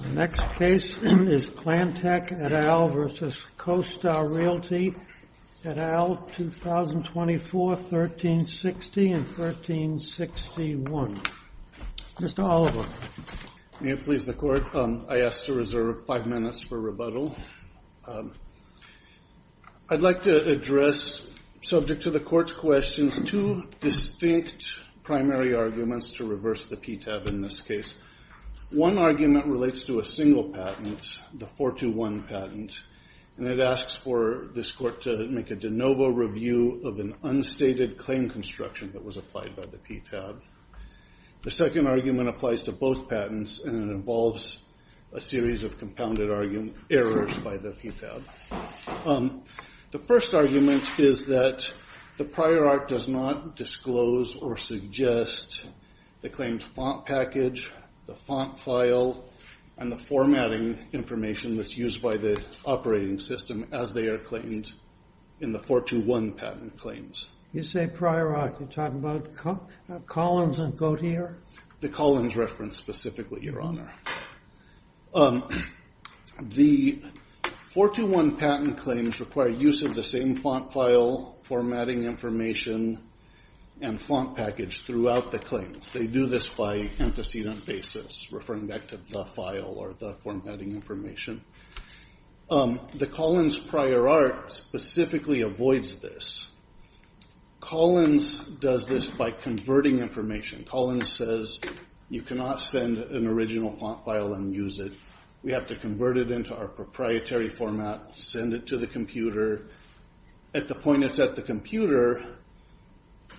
The next case is Clantech, et al., v. CoStar Realty, et al., 2024, 1360 and 1361. Mr. Oliver. May it please the Court? I ask to reserve five minutes for rebuttal. I'd like to address, subject to the Court's questions, two distinct primary arguments to reverse the PTAB in this case. One argument relates to a single patent, the 421 patent, and it asks for this Court to make a de novo review of an unstated claim construction that was applied by the PTAB. The second argument applies to both patents, and it involves a series of compounded errors by the PTAB. The first argument is that the prior art does not disclose or suggest the claimed font package, the font file, and the formatting information that's used by the operating system as they are claimed in the 421 patent claims. You say prior art. You're talking about Collins and Gauthier? The Collins reference, specifically, Your Honor. The 421 patent claims require use of the same font file, formatting information, and font package throughout the claims. They do this by antecedent basis, referring back to the file or the formatting information. The Collins prior art specifically avoids this. Collins does this by converting information. Collins says you cannot send an original font file and use it. We have to convert it into our proprietary format, send it to the computer. At the point it's at the computer,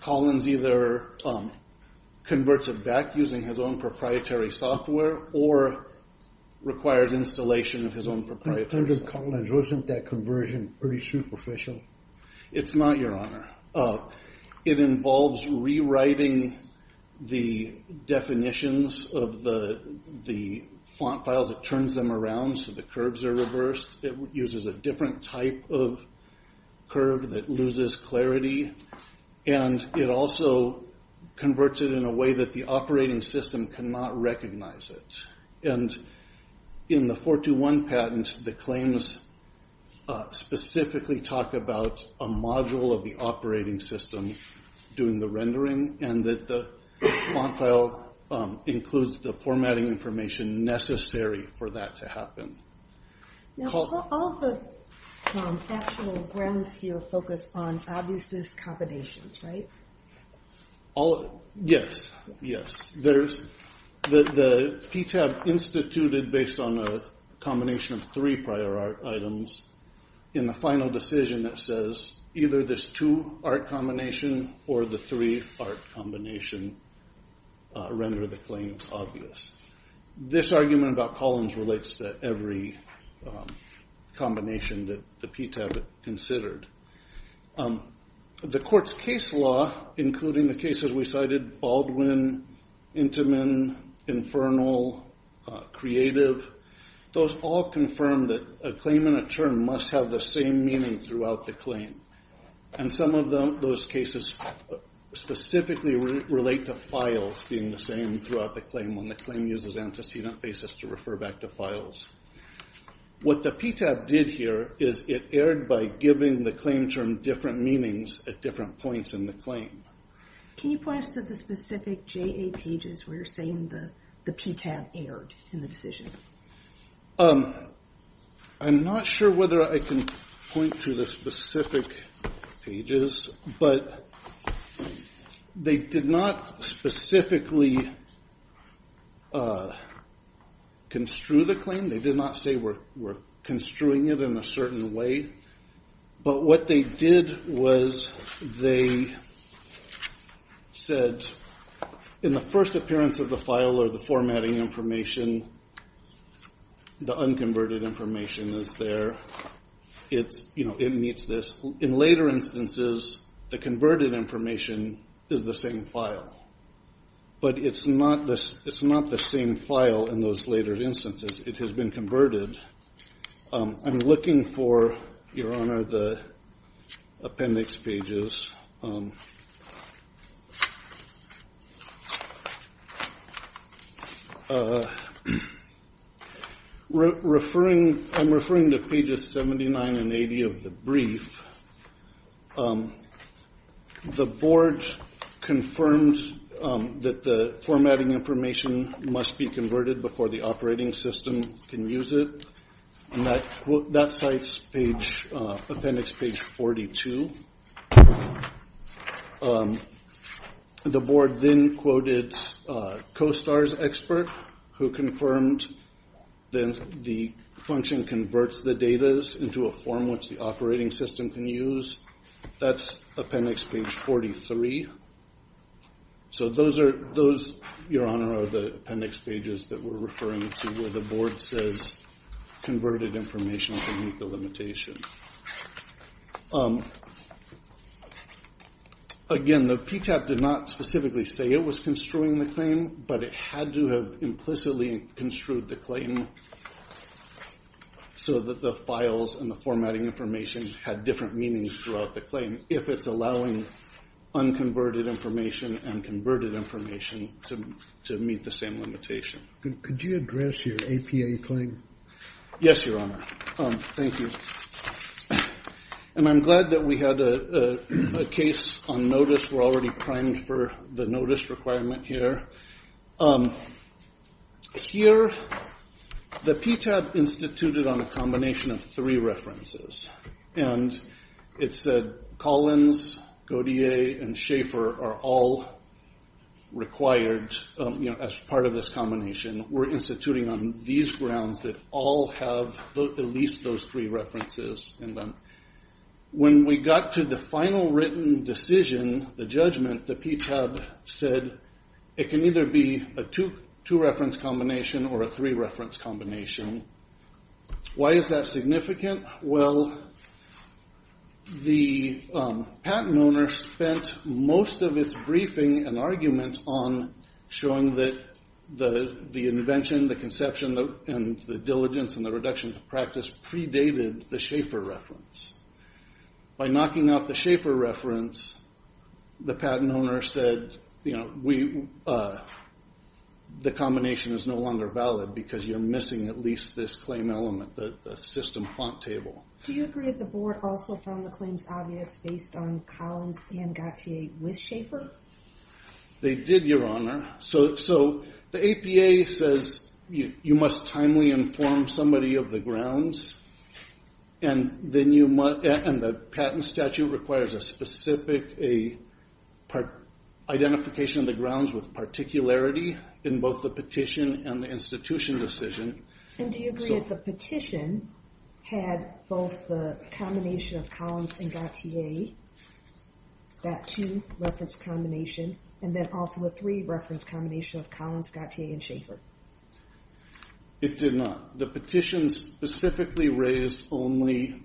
Collins either converts it back using his own proprietary software or requires installation of his own proprietary software. Under Collins, wasn't that conversion pretty superficial? It's not, Your Honor. It involves rewriting the definitions of the font files. It turns them around so the curves are reversed. It uses a different type of curve that loses clarity. It also converts it in a way that the operating system cannot recognize it. In the 421 patent, the claims specifically talk about a module of the operating system doing the rendering and that the font file includes the formatting information necessary for that to happen. All the actual grounds here focus on obviousness combinations, right? Yes. The PTAB instituted based on a combination of three prior art items. In the final decision, it says either this two art combination or the three art combination render the claims obvious. This argument about Collins relates to every combination that the PTAB considered. The court's case law, including the cases we cited, Baldwin, Intamin, Infernal, Creative, those all confirm that a claim and a term must have the same meaning throughout the claim. Some of those cases specifically relate to files being the same throughout the claim when the claim uses antecedent basis to refer back to files. What the PTAB did here is it erred by giving the claim term different meanings at different points in the claim. Can you point us to the specific JA pages where you're saying the PTAB erred in the decision? I'm not sure whether I can point to the specific pages, but they did not specifically construe the claim. They did not say we're construing it in a certain way, but what they did was they said in the first appearance of the file or the formatting information, the unconverted information is there. It meets this. In later instances, the converted information is the same file, but it's not the same file in those later instances. It has been converted. I'm looking for, Your Honor, the appendix pages. I'm referring to pages 79 and 80 of the brief. The board confirmed that the formatting information must be converted before the operating system can use it. That cites appendix page 42. The board then quoted CoSTAR's expert who confirmed that the function converts the data into a form which the operating system can use. That's appendix page 43. Those, Your Honor, are the appendix pages that we're referring to where the board says converted information can meet the limitation. Again, the PTAB did not specifically say it was construing the claim, but it had to have implicitly construed the claim so that the files and the formatting information had different meanings throughout the claim. If it's allowing unconverted information and converted information to meet the same limitation. Could you address your APA claim? Yes, Your Honor. Thank you. I'm glad that we had a case on notice. We're already primed for the notice requirement here. Here, the PTAB instituted on a combination of three references. It said Collins, Godier, and Schaefer are all required as part of this combination. We're instituting on these grounds that all have at least those three references in them. When we got to the final written decision, the judgment, the PTAB said it can either be a two-reference combination or a three-reference combination. Why is that significant? Well, the patent owner spent most of its briefing and argument on showing that the invention, the conception, and the diligence and the reduction to practice predated the Schaefer reference. By knocking out the Schaefer reference, the patent owner said the combination is no longer valid because you're missing at least this claim element, the system font table. Do you agree that the board also found the claims obvious based on Collins and Godier with Schaefer? They did, Your Honor. The APA says you must timely inform somebody of the grounds. The patent statute requires a specific identification of the grounds with particularity in both the petition and the institution decision. Do you agree that the petition had both the combination of Collins and Godier, that two-reference combination, and then also the three-reference combination of Collins, Godier, and Schaefer? It did not. The petition specifically raised only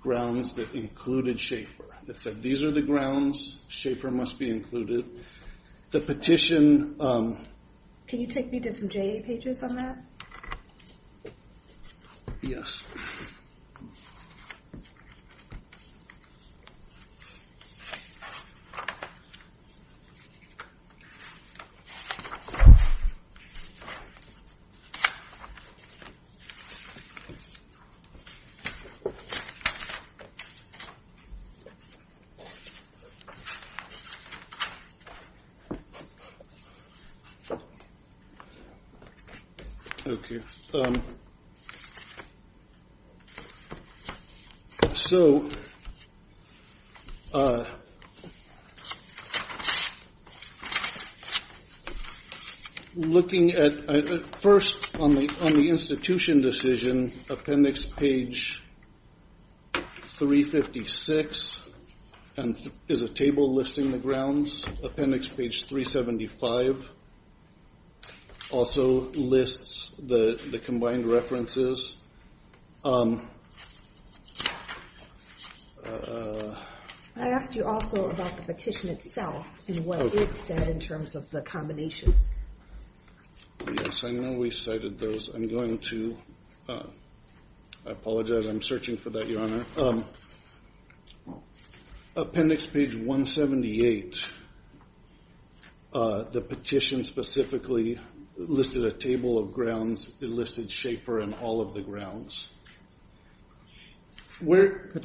grounds that included Schaefer. It said these are the grounds, Schaefer must be included. The petition... Can you take me to some JA pages on that? Yes. Okay. So... Looking at first on the institution decision, appendix page 356 is a table listing the grounds. Appendix page 375 also lists the combined references. I asked you also about the petition itself and what it said in terms of the combinations. Yes, I know we cited those. I'm going to... I apologize, I'm searching for that, Your Honor. Appendix page 178, the petition specifically listed a table of grounds. It listed Schaefer in all of the grounds.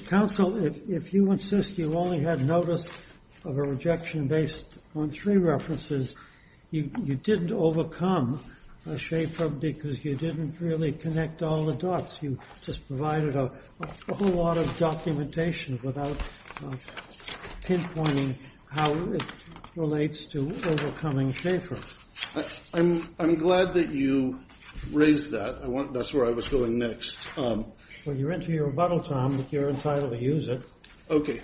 Counsel, if you insist you only had notice of a rejection based on three references, you didn't overcome Schaefer because you didn't really connect all the dots. You just provided a whole lot of documentation without pinpointing how it relates to overcoming Schaefer. I'm glad that you raised that. That's where I was going next. Well, you're into your rebuttal time, but you're entitled to use it. Okay.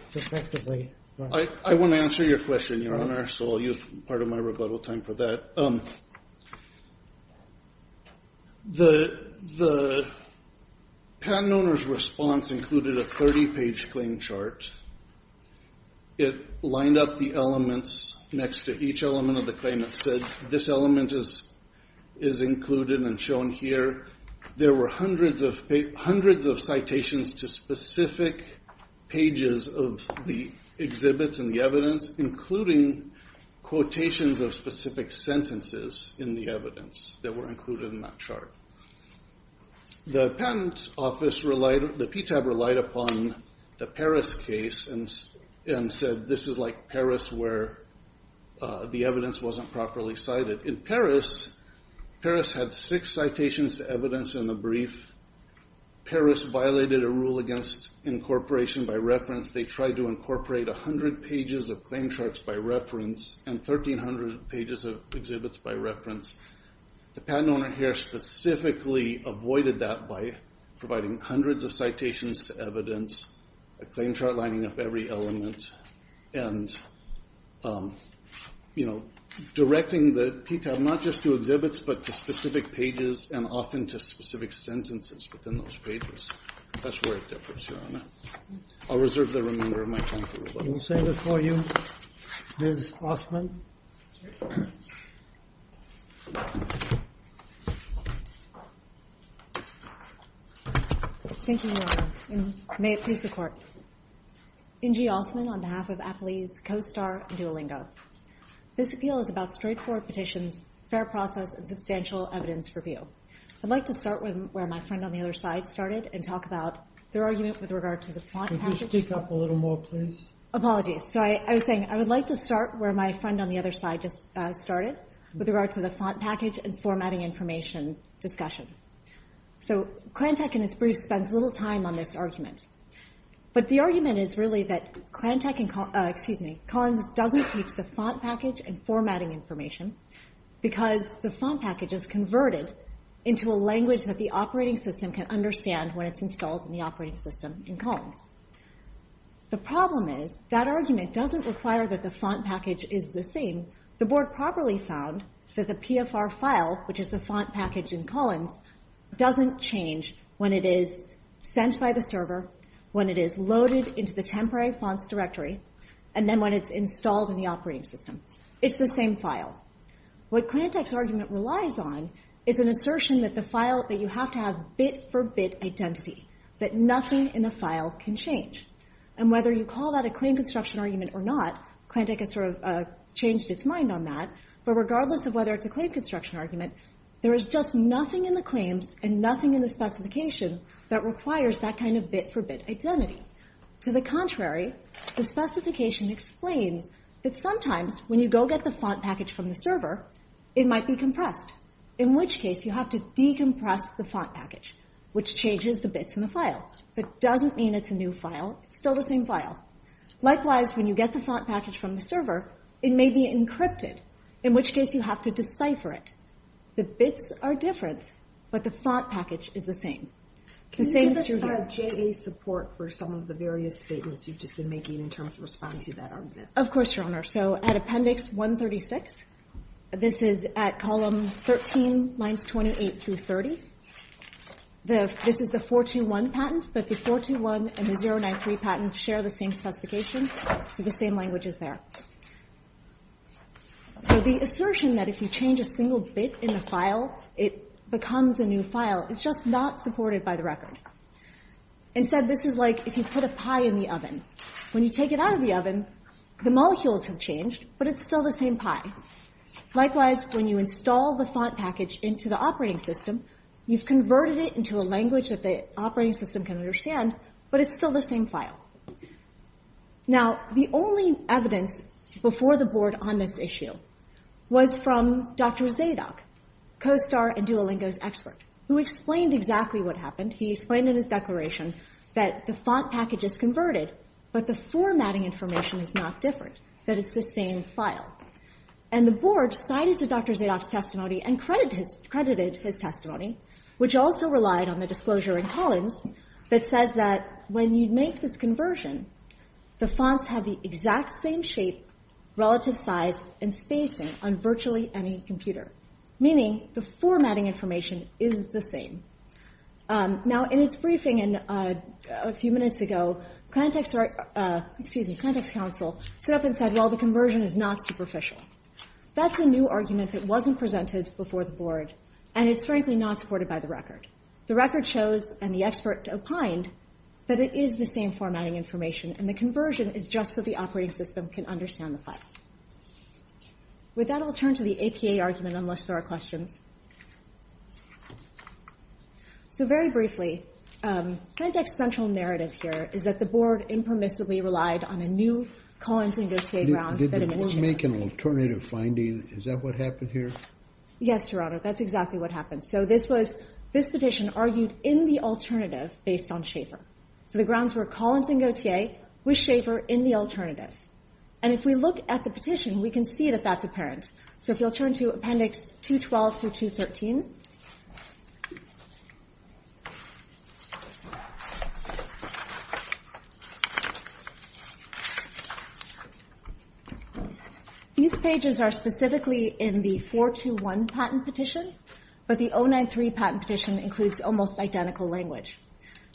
I want to answer your question, Your Honor, so I'll use part of my rebuttal time for that. The patent owner's response included a 30-page claim chart. It lined up the elements next to each element of the claim. It said this element is included and shown here. There were hundreds of citations to specific pages of the exhibits and the evidence, including quotations of specific sentences in the evidence that were included in that chart. The PTAB relied upon the Paris case and said this is like Paris where the evidence wasn't properly cited. In Paris, Paris had six citations to evidence in the brief. Paris violated a rule against incorporation by reference. They tried to incorporate 100 pages of claim charts by reference and 1,300 pages of exhibits by reference. The patent owner here specifically avoided that by providing hundreds of citations to evidence, a claim chart lining up every element, and directing the PTAB not just to exhibits but to specific pages and often to specific sentences within those pages. That's where it differs, Your Honor. I'll reserve the remainder of my time for rebuttal. We'll send it for you, Ms. Ostman. Thank you, Your Honor. May it please the Court. N.G. Ostman on behalf of Applease, CoStar, and Duolingo. This appeal is about straightforward petitions, fair process, and substantial evidence for view. I'd like to start where my friend on the other side started and talk about their argument with regard to the font package. Could you speak up a little more, please? Apologies. So I was saying I would like to start where my friend on the other side just started with regard to the font package and formatting information discussion. So Clantech in its brief spends little time on this argument, but the argument is really that Clantech and Collins doesn't teach the font package and formatting information because the font package is converted into a language that the operating system can understand when it's installed in the operating system in Collins. The problem is that argument doesn't require that the font package is the same. The Board properly found that the PFR file, which is the font package in Collins, doesn't change when it is sent by the server, when it is loaded into the temporary fonts directory, and then when it's installed in the operating system. It's the same file. What Clantech's argument relies on is an assertion that you have to have bit-for-bit identity, that nothing in the file can change. And whether you call that a claim construction argument or not, Clantech has sort of changed its mind on that, but regardless of whether it's a claim construction argument, there is just nothing in the claims and nothing in the specification that requires that kind of bit-for-bit identity. To the contrary, the specification explains that sometimes when you go get the font package from the server, it might be compressed, in which case you have to decompress the font package, which changes the bits in the file. That doesn't mean it's a new file. It's still the same file. Likewise, when you get the font package from the server, it may be encrypted, in which case you have to decipher it. The bits are different, but the font package is the same. Can you give us your JA support for some of the various statements you've just been making in terms of responding to that argument? Of course, Your Honor. So at Appendix 136, this is at column 13, lines 28 through 30. This is the 421 patent, but the 421 and the 093 patents share the same specification, so the same language is there. So the assertion that if you change a single bit in the file, it becomes a new file, is just not supported by the record. Instead, this is like if you put a pie in the oven. When you take it out of the oven, the molecules have changed, but it's still the same pie. Likewise, when you install the font package into the operating system, you've converted it into a language that the operating system can understand, but it's still the same file. Now, the only evidence before the Board on this issue was from Dr. Zadok, co-star and Duolingo's expert, who explained exactly what happened. He explained in his declaration that the font package is converted, but the formatting information is not different, that it's the same file. And the Board cited Dr. Zadok's testimony and credited his testimony, which also relied on the disclosure in Collins that says that when you make this conversion, the fonts have the exact same shape, relative size, and spacing on virtually any computer, meaning the formatting information is the same. Now, in its briefing a few minutes ago, Context Council stood up and said, well, the conversion is not superficial. That's a new argument that wasn't presented before the Board, and it's frankly not supported by the record. The record shows, and the expert opined, that it is the same formatting information, and the conversion is just so the operating system can understand the file. With that, I'll turn to the APA argument, unless there are questions. So very briefly, Plantech's central narrative here is that the Board impermissibly relied on a new Did the Board make an alternative finding? Is that what happened here? Yes, Your Honor. That's exactly what happened. So this petition argued in the alternative based on Schaefer. So the grounds were Collins and Gaultier with Schaefer in the alternative. And if we look at the petition, we can see that that's apparent. So if you'll turn to Appendix 212 through 213. These pages are specifically in the 421 patent petition, but the 093 patent petition includes almost identical language.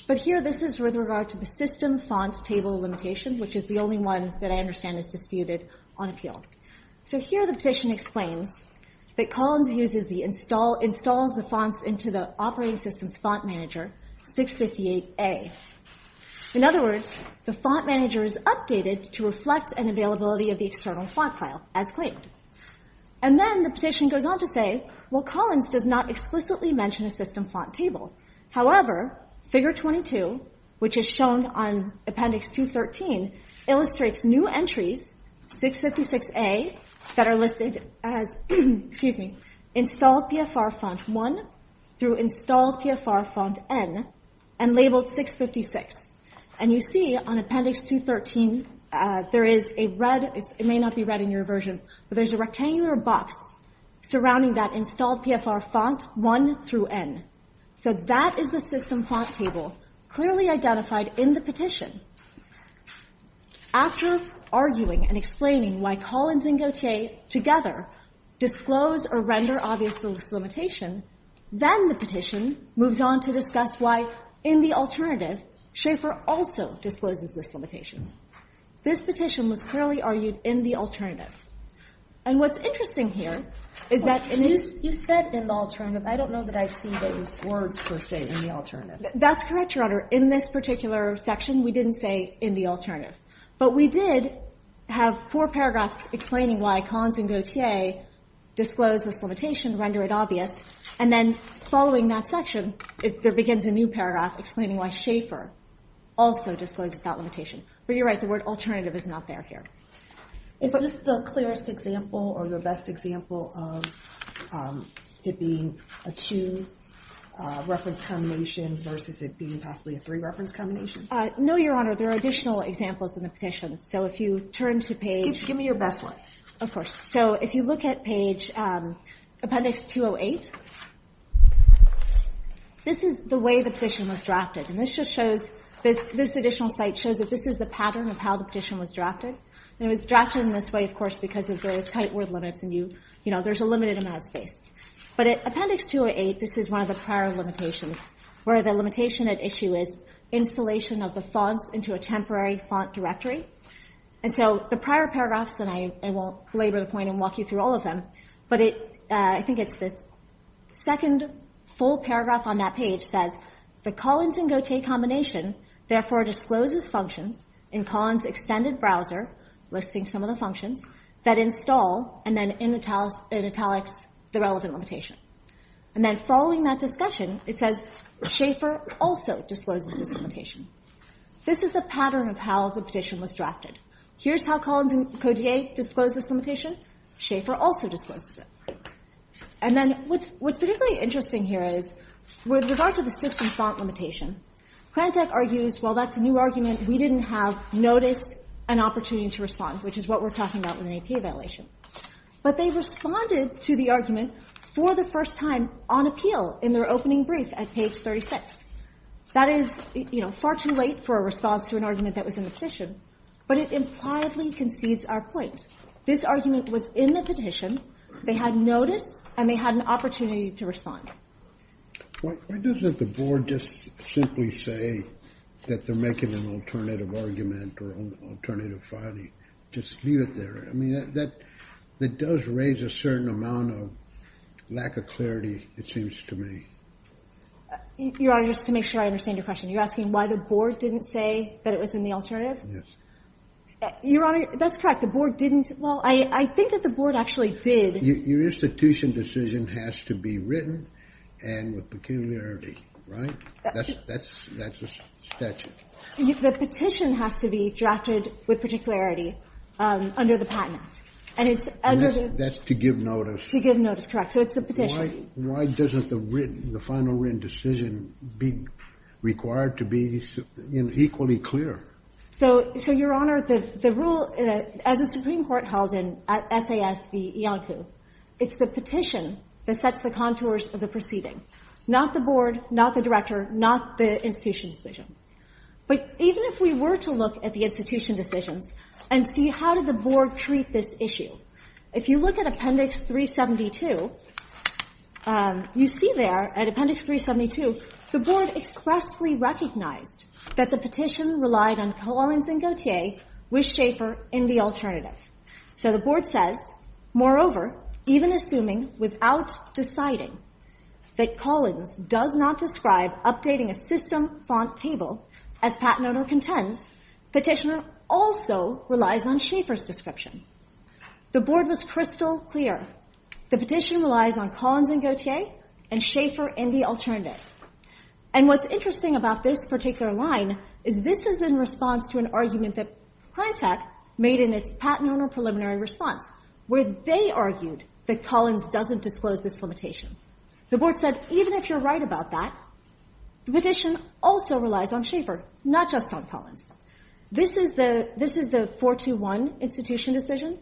But here this is with regard to the system font table limitation, which is the only one that I understand is disputed on appeal. So here the petition explains that Collins installs the fonts into the operating system's font manager, 658A. In other words, the font manager is updated to reflect an availability of the external font file as claimed. And then the petition goes on to say, well, Collins does not explicitly mention a system font table. However, Figure 22, which is shown on Appendix 213, illustrates new entries, 656A, that are listed as, excuse me, installed PFR font 1 through installed PFR font N and labeled 656. And you see on Appendix 213, there is a red, it may not be red in your version, but there's a rectangular box surrounding that installed PFR font 1 through N. So that is the system font table clearly identified in the petition. After arguing and explaining why Collins and Gaultier together disclose or render obvious the limitation, then the petition moves on to discuss why, in the alternative, Schaeffer also discloses this limitation. This petition was clearly argued in the alternative. And what's interesting here is that in its ---- You said in the alternative. I don't know that I see those words, per se, in the alternative. That's correct, Your Honor. In this particular section, we didn't say in the alternative. But we did have four paragraphs explaining why Collins and Gaultier disclose this limitation, render it obvious, and then following that section, there begins a new paragraph explaining why Schaeffer also discloses that limitation. But you're right, the word alternative is not there here. Is this the clearest example or the best example of it being a two-reference combination versus it being possibly a three-reference combination? No, Your Honor. There are additional examples in the petition. So if you turn to page ---- Give me your best one. Of course. So if you look at page Appendix 208, this is the way the petition was drafted. And this just shows ---- this additional site shows that this is the pattern of how the petition was drafted. And it was drafted in this way, of course, because of the tight word limits and, you know, there's a limited amount of space. But Appendix 208, this is one of the prior limitations, where the limitation at issue is installation of the fonts into a temporary font directory. And so the prior paragraphs, and I won't labor the point and walk you through all of them, but I think it's the second full paragraph on that page says, the Collins and Gaultier combination therefore discloses functions in Collins' extended browser, listing some of the functions, that install and then in italics the relevant limitation. And then following that discussion, it says Schaeffer also discloses this limitation. This is the pattern of how the petition was drafted. Here's how Collins and Gaultier disclosed this limitation. Schaeffer also discloses it. And then what's particularly interesting here is with regard to the system font limitation, Klantech argues, well, that's a new argument. We didn't have notice and opportunity to respond, which is what we're talking about with an APA violation. But they responded to the argument for the first time on appeal in their opening brief at page 36. That is, you know, far too late for a response to an argument that was in the petition. But it impliedly concedes our point. This argument was in the petition. They had notice and they had an opportunity to respond. Why doesn't the board just simply say that they're making an alternative argument or alternative filing? Just leave it there. I mean, that does raise a certain amount of lack of clarity, it seems to me. Your Honor, just to make sure I understand your question, you're asking why the board didn't say that it was in the alternative? Yes. Your Honor, that's correct. The board didn't. Well, I think that the board actually did. Your institution decision has to be written and with particularity, right? That's a statute. The petition has to be drafted with particularity under the Patent Act. And that's to give notice. To give notice, correct. So it's the petition. Why doesn't the final written decision be required to be equally clear? So, Your Honor, the rule, as the Supreme Court held in SAS v. Iancu, it's the petition that sets the contours of the proceeding. Not the board, not the director, not the institution decision. But even if we were to look at the institution decisions and see how did the board treat this issue, if you look at Appendix 372, you see there, at Appendix 372, the board expressly recognized that the petition relied on Collins and Gautier with Schaefer in the alternative. So the board says, moreover, even assuming without deciding that Collins does not describe updating a system font table as patent owner contends, the petitioner also relies on Schaefer's description. The board was crystal clear. The petition relies on Collins and Gautier and Schaefer in the alternative. And what's interesting about this particular line is this is in response to an argument that Plantech made in its patent owner preliminary response, where they argued that Collins doesn't disclose this limitation. The board said, even if you're right about that, the petition also relies on Schaefer, not just on Collins. This is the 421 institution decision.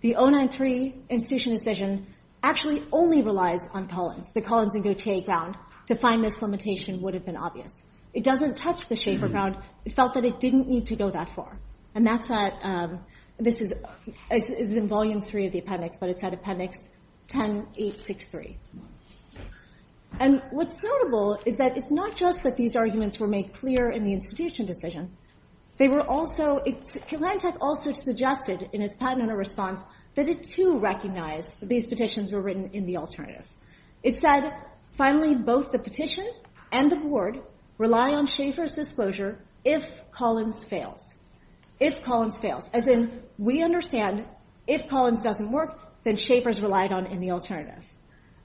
The 093 institution decision actually only relies on Collins. The Collins and Gautier ground to find this limitation would have been obvious. It doesn't touch the Schaefer ground. It felt that it didn't need to go that far. And that's at, this is in volume three of the appendix, but it's at appendix 10863. And what's notable is that it's not just that these arguments were made clear in the institution decision. They were also, Plantech also suggested in its patent owner response that it, too, recognized that these petitions were written in the alternative. It said, finally, both the petition and the board rely on Schaefer's disclosure if Collins fails. If Collins fails. As in, we understand if Collins doesn't work, then Schaefer's relied on in the alternative.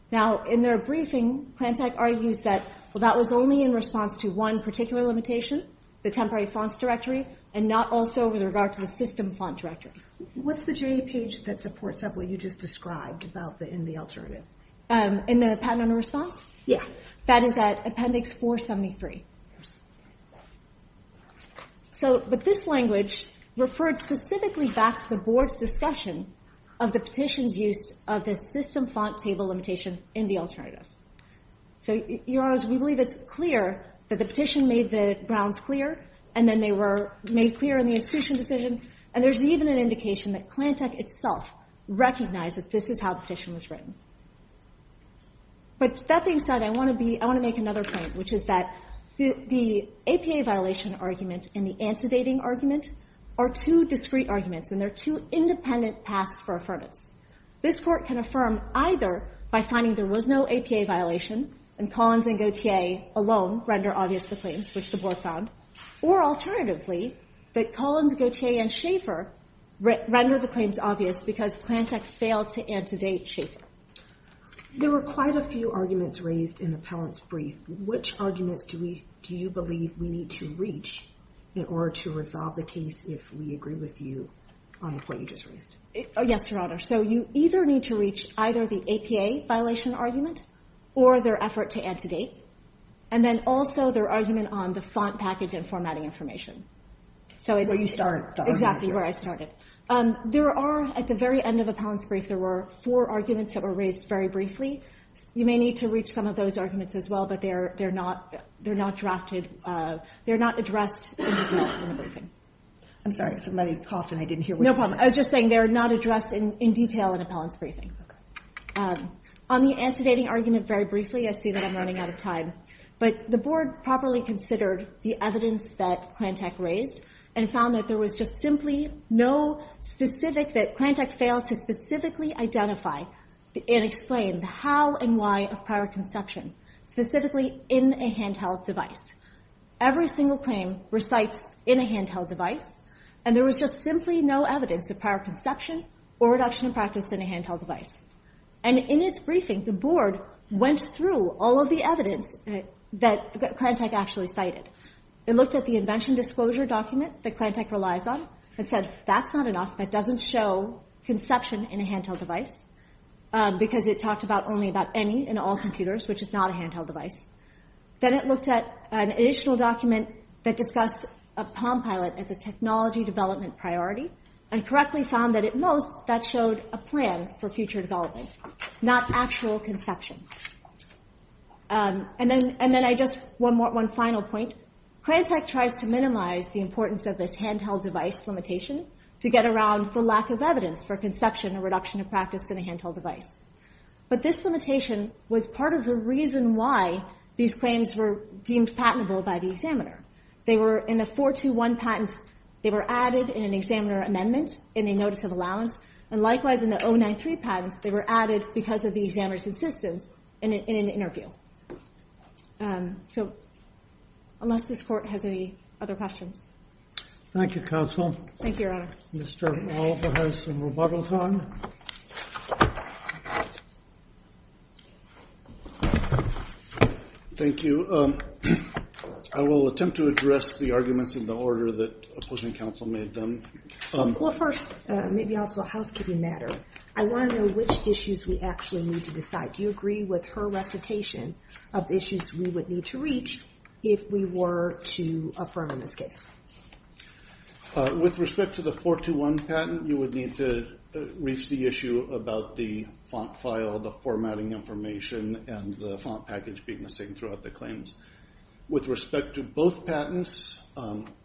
Now, in their briefing, Plantech argues that, well, that was only in response to one particular limitation, the temporary fonts directory, and not also with regard to the system font directory. What's the J page that supports what you just described in the alternative? In the patent owner response? Yeah. That is at appendix 473. So, but this language referred specifically back to the board's discussion of the petition's use of the system font table limitation in the alternative. So, Your Honors, we believe it's clear that the petition made the grounds clear, and then they were made clear in the institution decision. And there's even an indication that Plantech itself recognized that this is how the petition was written. But that being said, I want to make another point, which is that the APA violation argument and the antedating argument are two discrete arguments, and they're two independent paths for affirmance. This court can affirm either by finding there was no APA violation, and Collins and Gautier alone render obvious the claims, which the board found, or alternatively, that Collins, Gautier, and Schaefer render the claims obvious because Plantech failed to antedate Schaefer. There were quite a few arguments raised in the appellant's brief. Which arguments do you believe we need to reach in order to resolve the case if we agree with you on the point you just raised? Yes, Your Honor. So you either need to reach either the APA violation argument or their effort to antedate, and then also their argument on the font package and formatting information. Where you started. Exactly, where I started. There are, at the very end of appellant's brief, there were four arguments that were raised very briefly. You may need to reach some of those arguments as well, but they're not drafted. They're not addressed in detail in the briefing. I'm sorry, somebody coughed and I didn't hear what you said. No problem. I was just saying they're not addressed in detail in appellant's briefing. On the antedating argument very briefly, I see that I'm running out of time. But the board properly considered the evidence that Plantech raised and found that there was just simply no specific, that Plantech failed to specifically identify and explain the how and why of prior conception, specifically in a handheld device. Every single claim recites in a handheld device. And there was just simply no evidence of prior conception or reduction in practice in a handheld device. And in its briefing, the board went through all of the evidence that Plantech actually cited. It looked at the invention disclosure document that Plantech relies on and said, that's not enough, that doesn't show conception in a handheld device. Because it talked only about any and all computers, which is not a handheld device. Then it looked at an initial document that discussed a PalmPilot as a technology development priority, and correctly found that at most, that showed a plan for future development, not actual conception. And then I just, one final point, Plantech tries to minimize the importance of this handheld device limitation to get around the lack of evidence for conception or reduction of practice in a handheld device. But this limitation was part of the reason why these claims were deemed patentable by the examiner. They were in a 421 patent, they were added in an examiner amendment in a notice of allowance, and likewise in the 093 patent, they were added because of the examiner's insistence in an interview. So, unless this court has any other questions. Thank you, Counsel. Thank you, Your Honor. Mr. Oliver has some rebuttals on. Thank you. I will attempt to address the arguments in the order that opposing counsel made them. Well, first, maybe also a housekeeping matter. I want to know which issues we actually need to decide. Do you agree with her recitation of issues we would need to reach if we were to affirm in this case? With respect to the 421 patent, you would need to reach the issue about the font file, the formatting information, and the font package being the same throughout the claims. With respect to both patents,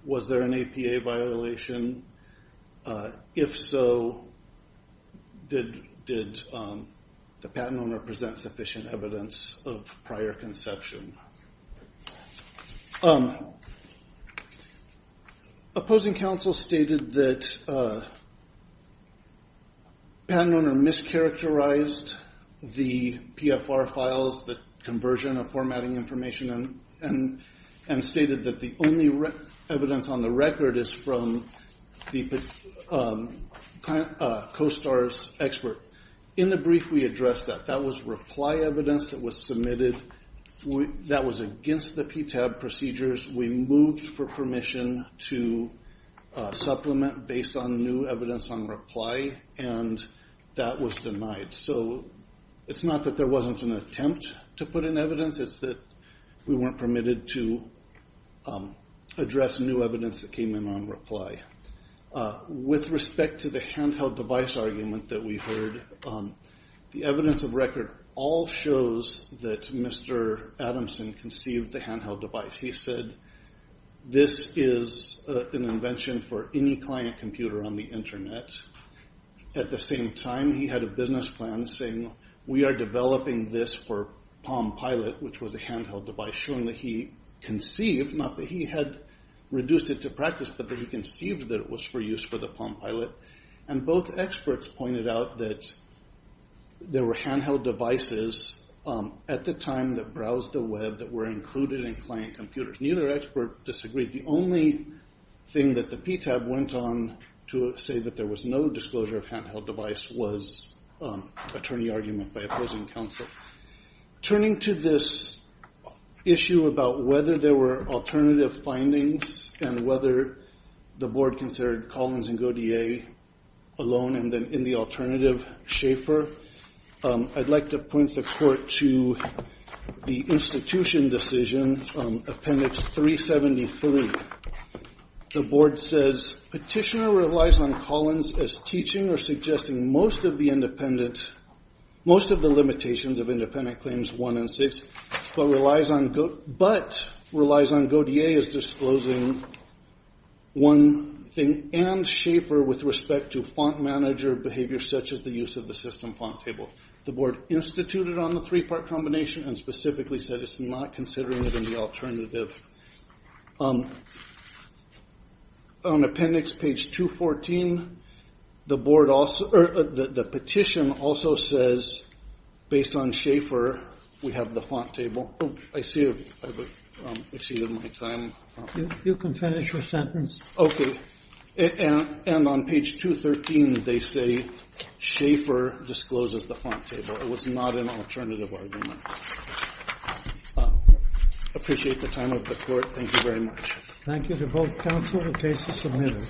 was there an APA violation? If so, did the patent owner present sufficient evidence of prior conception? Opposing counsel stated that the patent owner mischaracterized the PFR files, the conversion of formatting information, and stated that the only evidence on the record is from the CoSTAR's expert. In the brief, we addressed that. That was reply evidence that was submitted. That was against the PTAB procedures. We moved for permission to supplement based on new evidence on reply, and that was denied. So, it's not that there wasn't an attempt to put in evidence. It's that we weren't permitted to address new evidence that came in on reply. With respect to the handheld device argument that we heard, the evidence of record all shows that Mr. Adamson conceived the handheld device. He said, this is an invention for any client computer on the Internet. At the same time, he had a business plan saying, we are developing this for PalmPilot, which was a handheld device. Showing that he conceived, not that he had reduced it to practice, but that he conceived that it was for use for the PalmPilot. And both experts pointed out that there were handheld devices at the time that browsed the web that were included in client computers. Neither expert disagreed. The only thing that the PTAB went on to say that there was no disclosure of handheld device was attorney argument by opposing counsel. Turning to this issue about whether there were alternative findings and whether the board considered Collins and Godier alone, and then in the alternative, Schaefer, I'd like to point the court to the institution decision, appendix 373. The board says, petitioner relies on Collins as teaching or suggesting most of the independent, most of the limitations of independent claims one and six, but relies on Godier as disclosing one thing, and Schaefer with respect to font manager behavior such as the use of the system font table. The board instituted on the three-part combination and specifically said it's not considering it in the alternative. On appendix page 214, the petition also says, based on Schaefer, we have the font table. I see I've exceeded my time. You can finish your sentence. And on page 213, they say Schaefer discloses the font table. It was not an alternative argument. I appreciate the time of the court. Thank you very much. Thank you to both counsel and case submitted.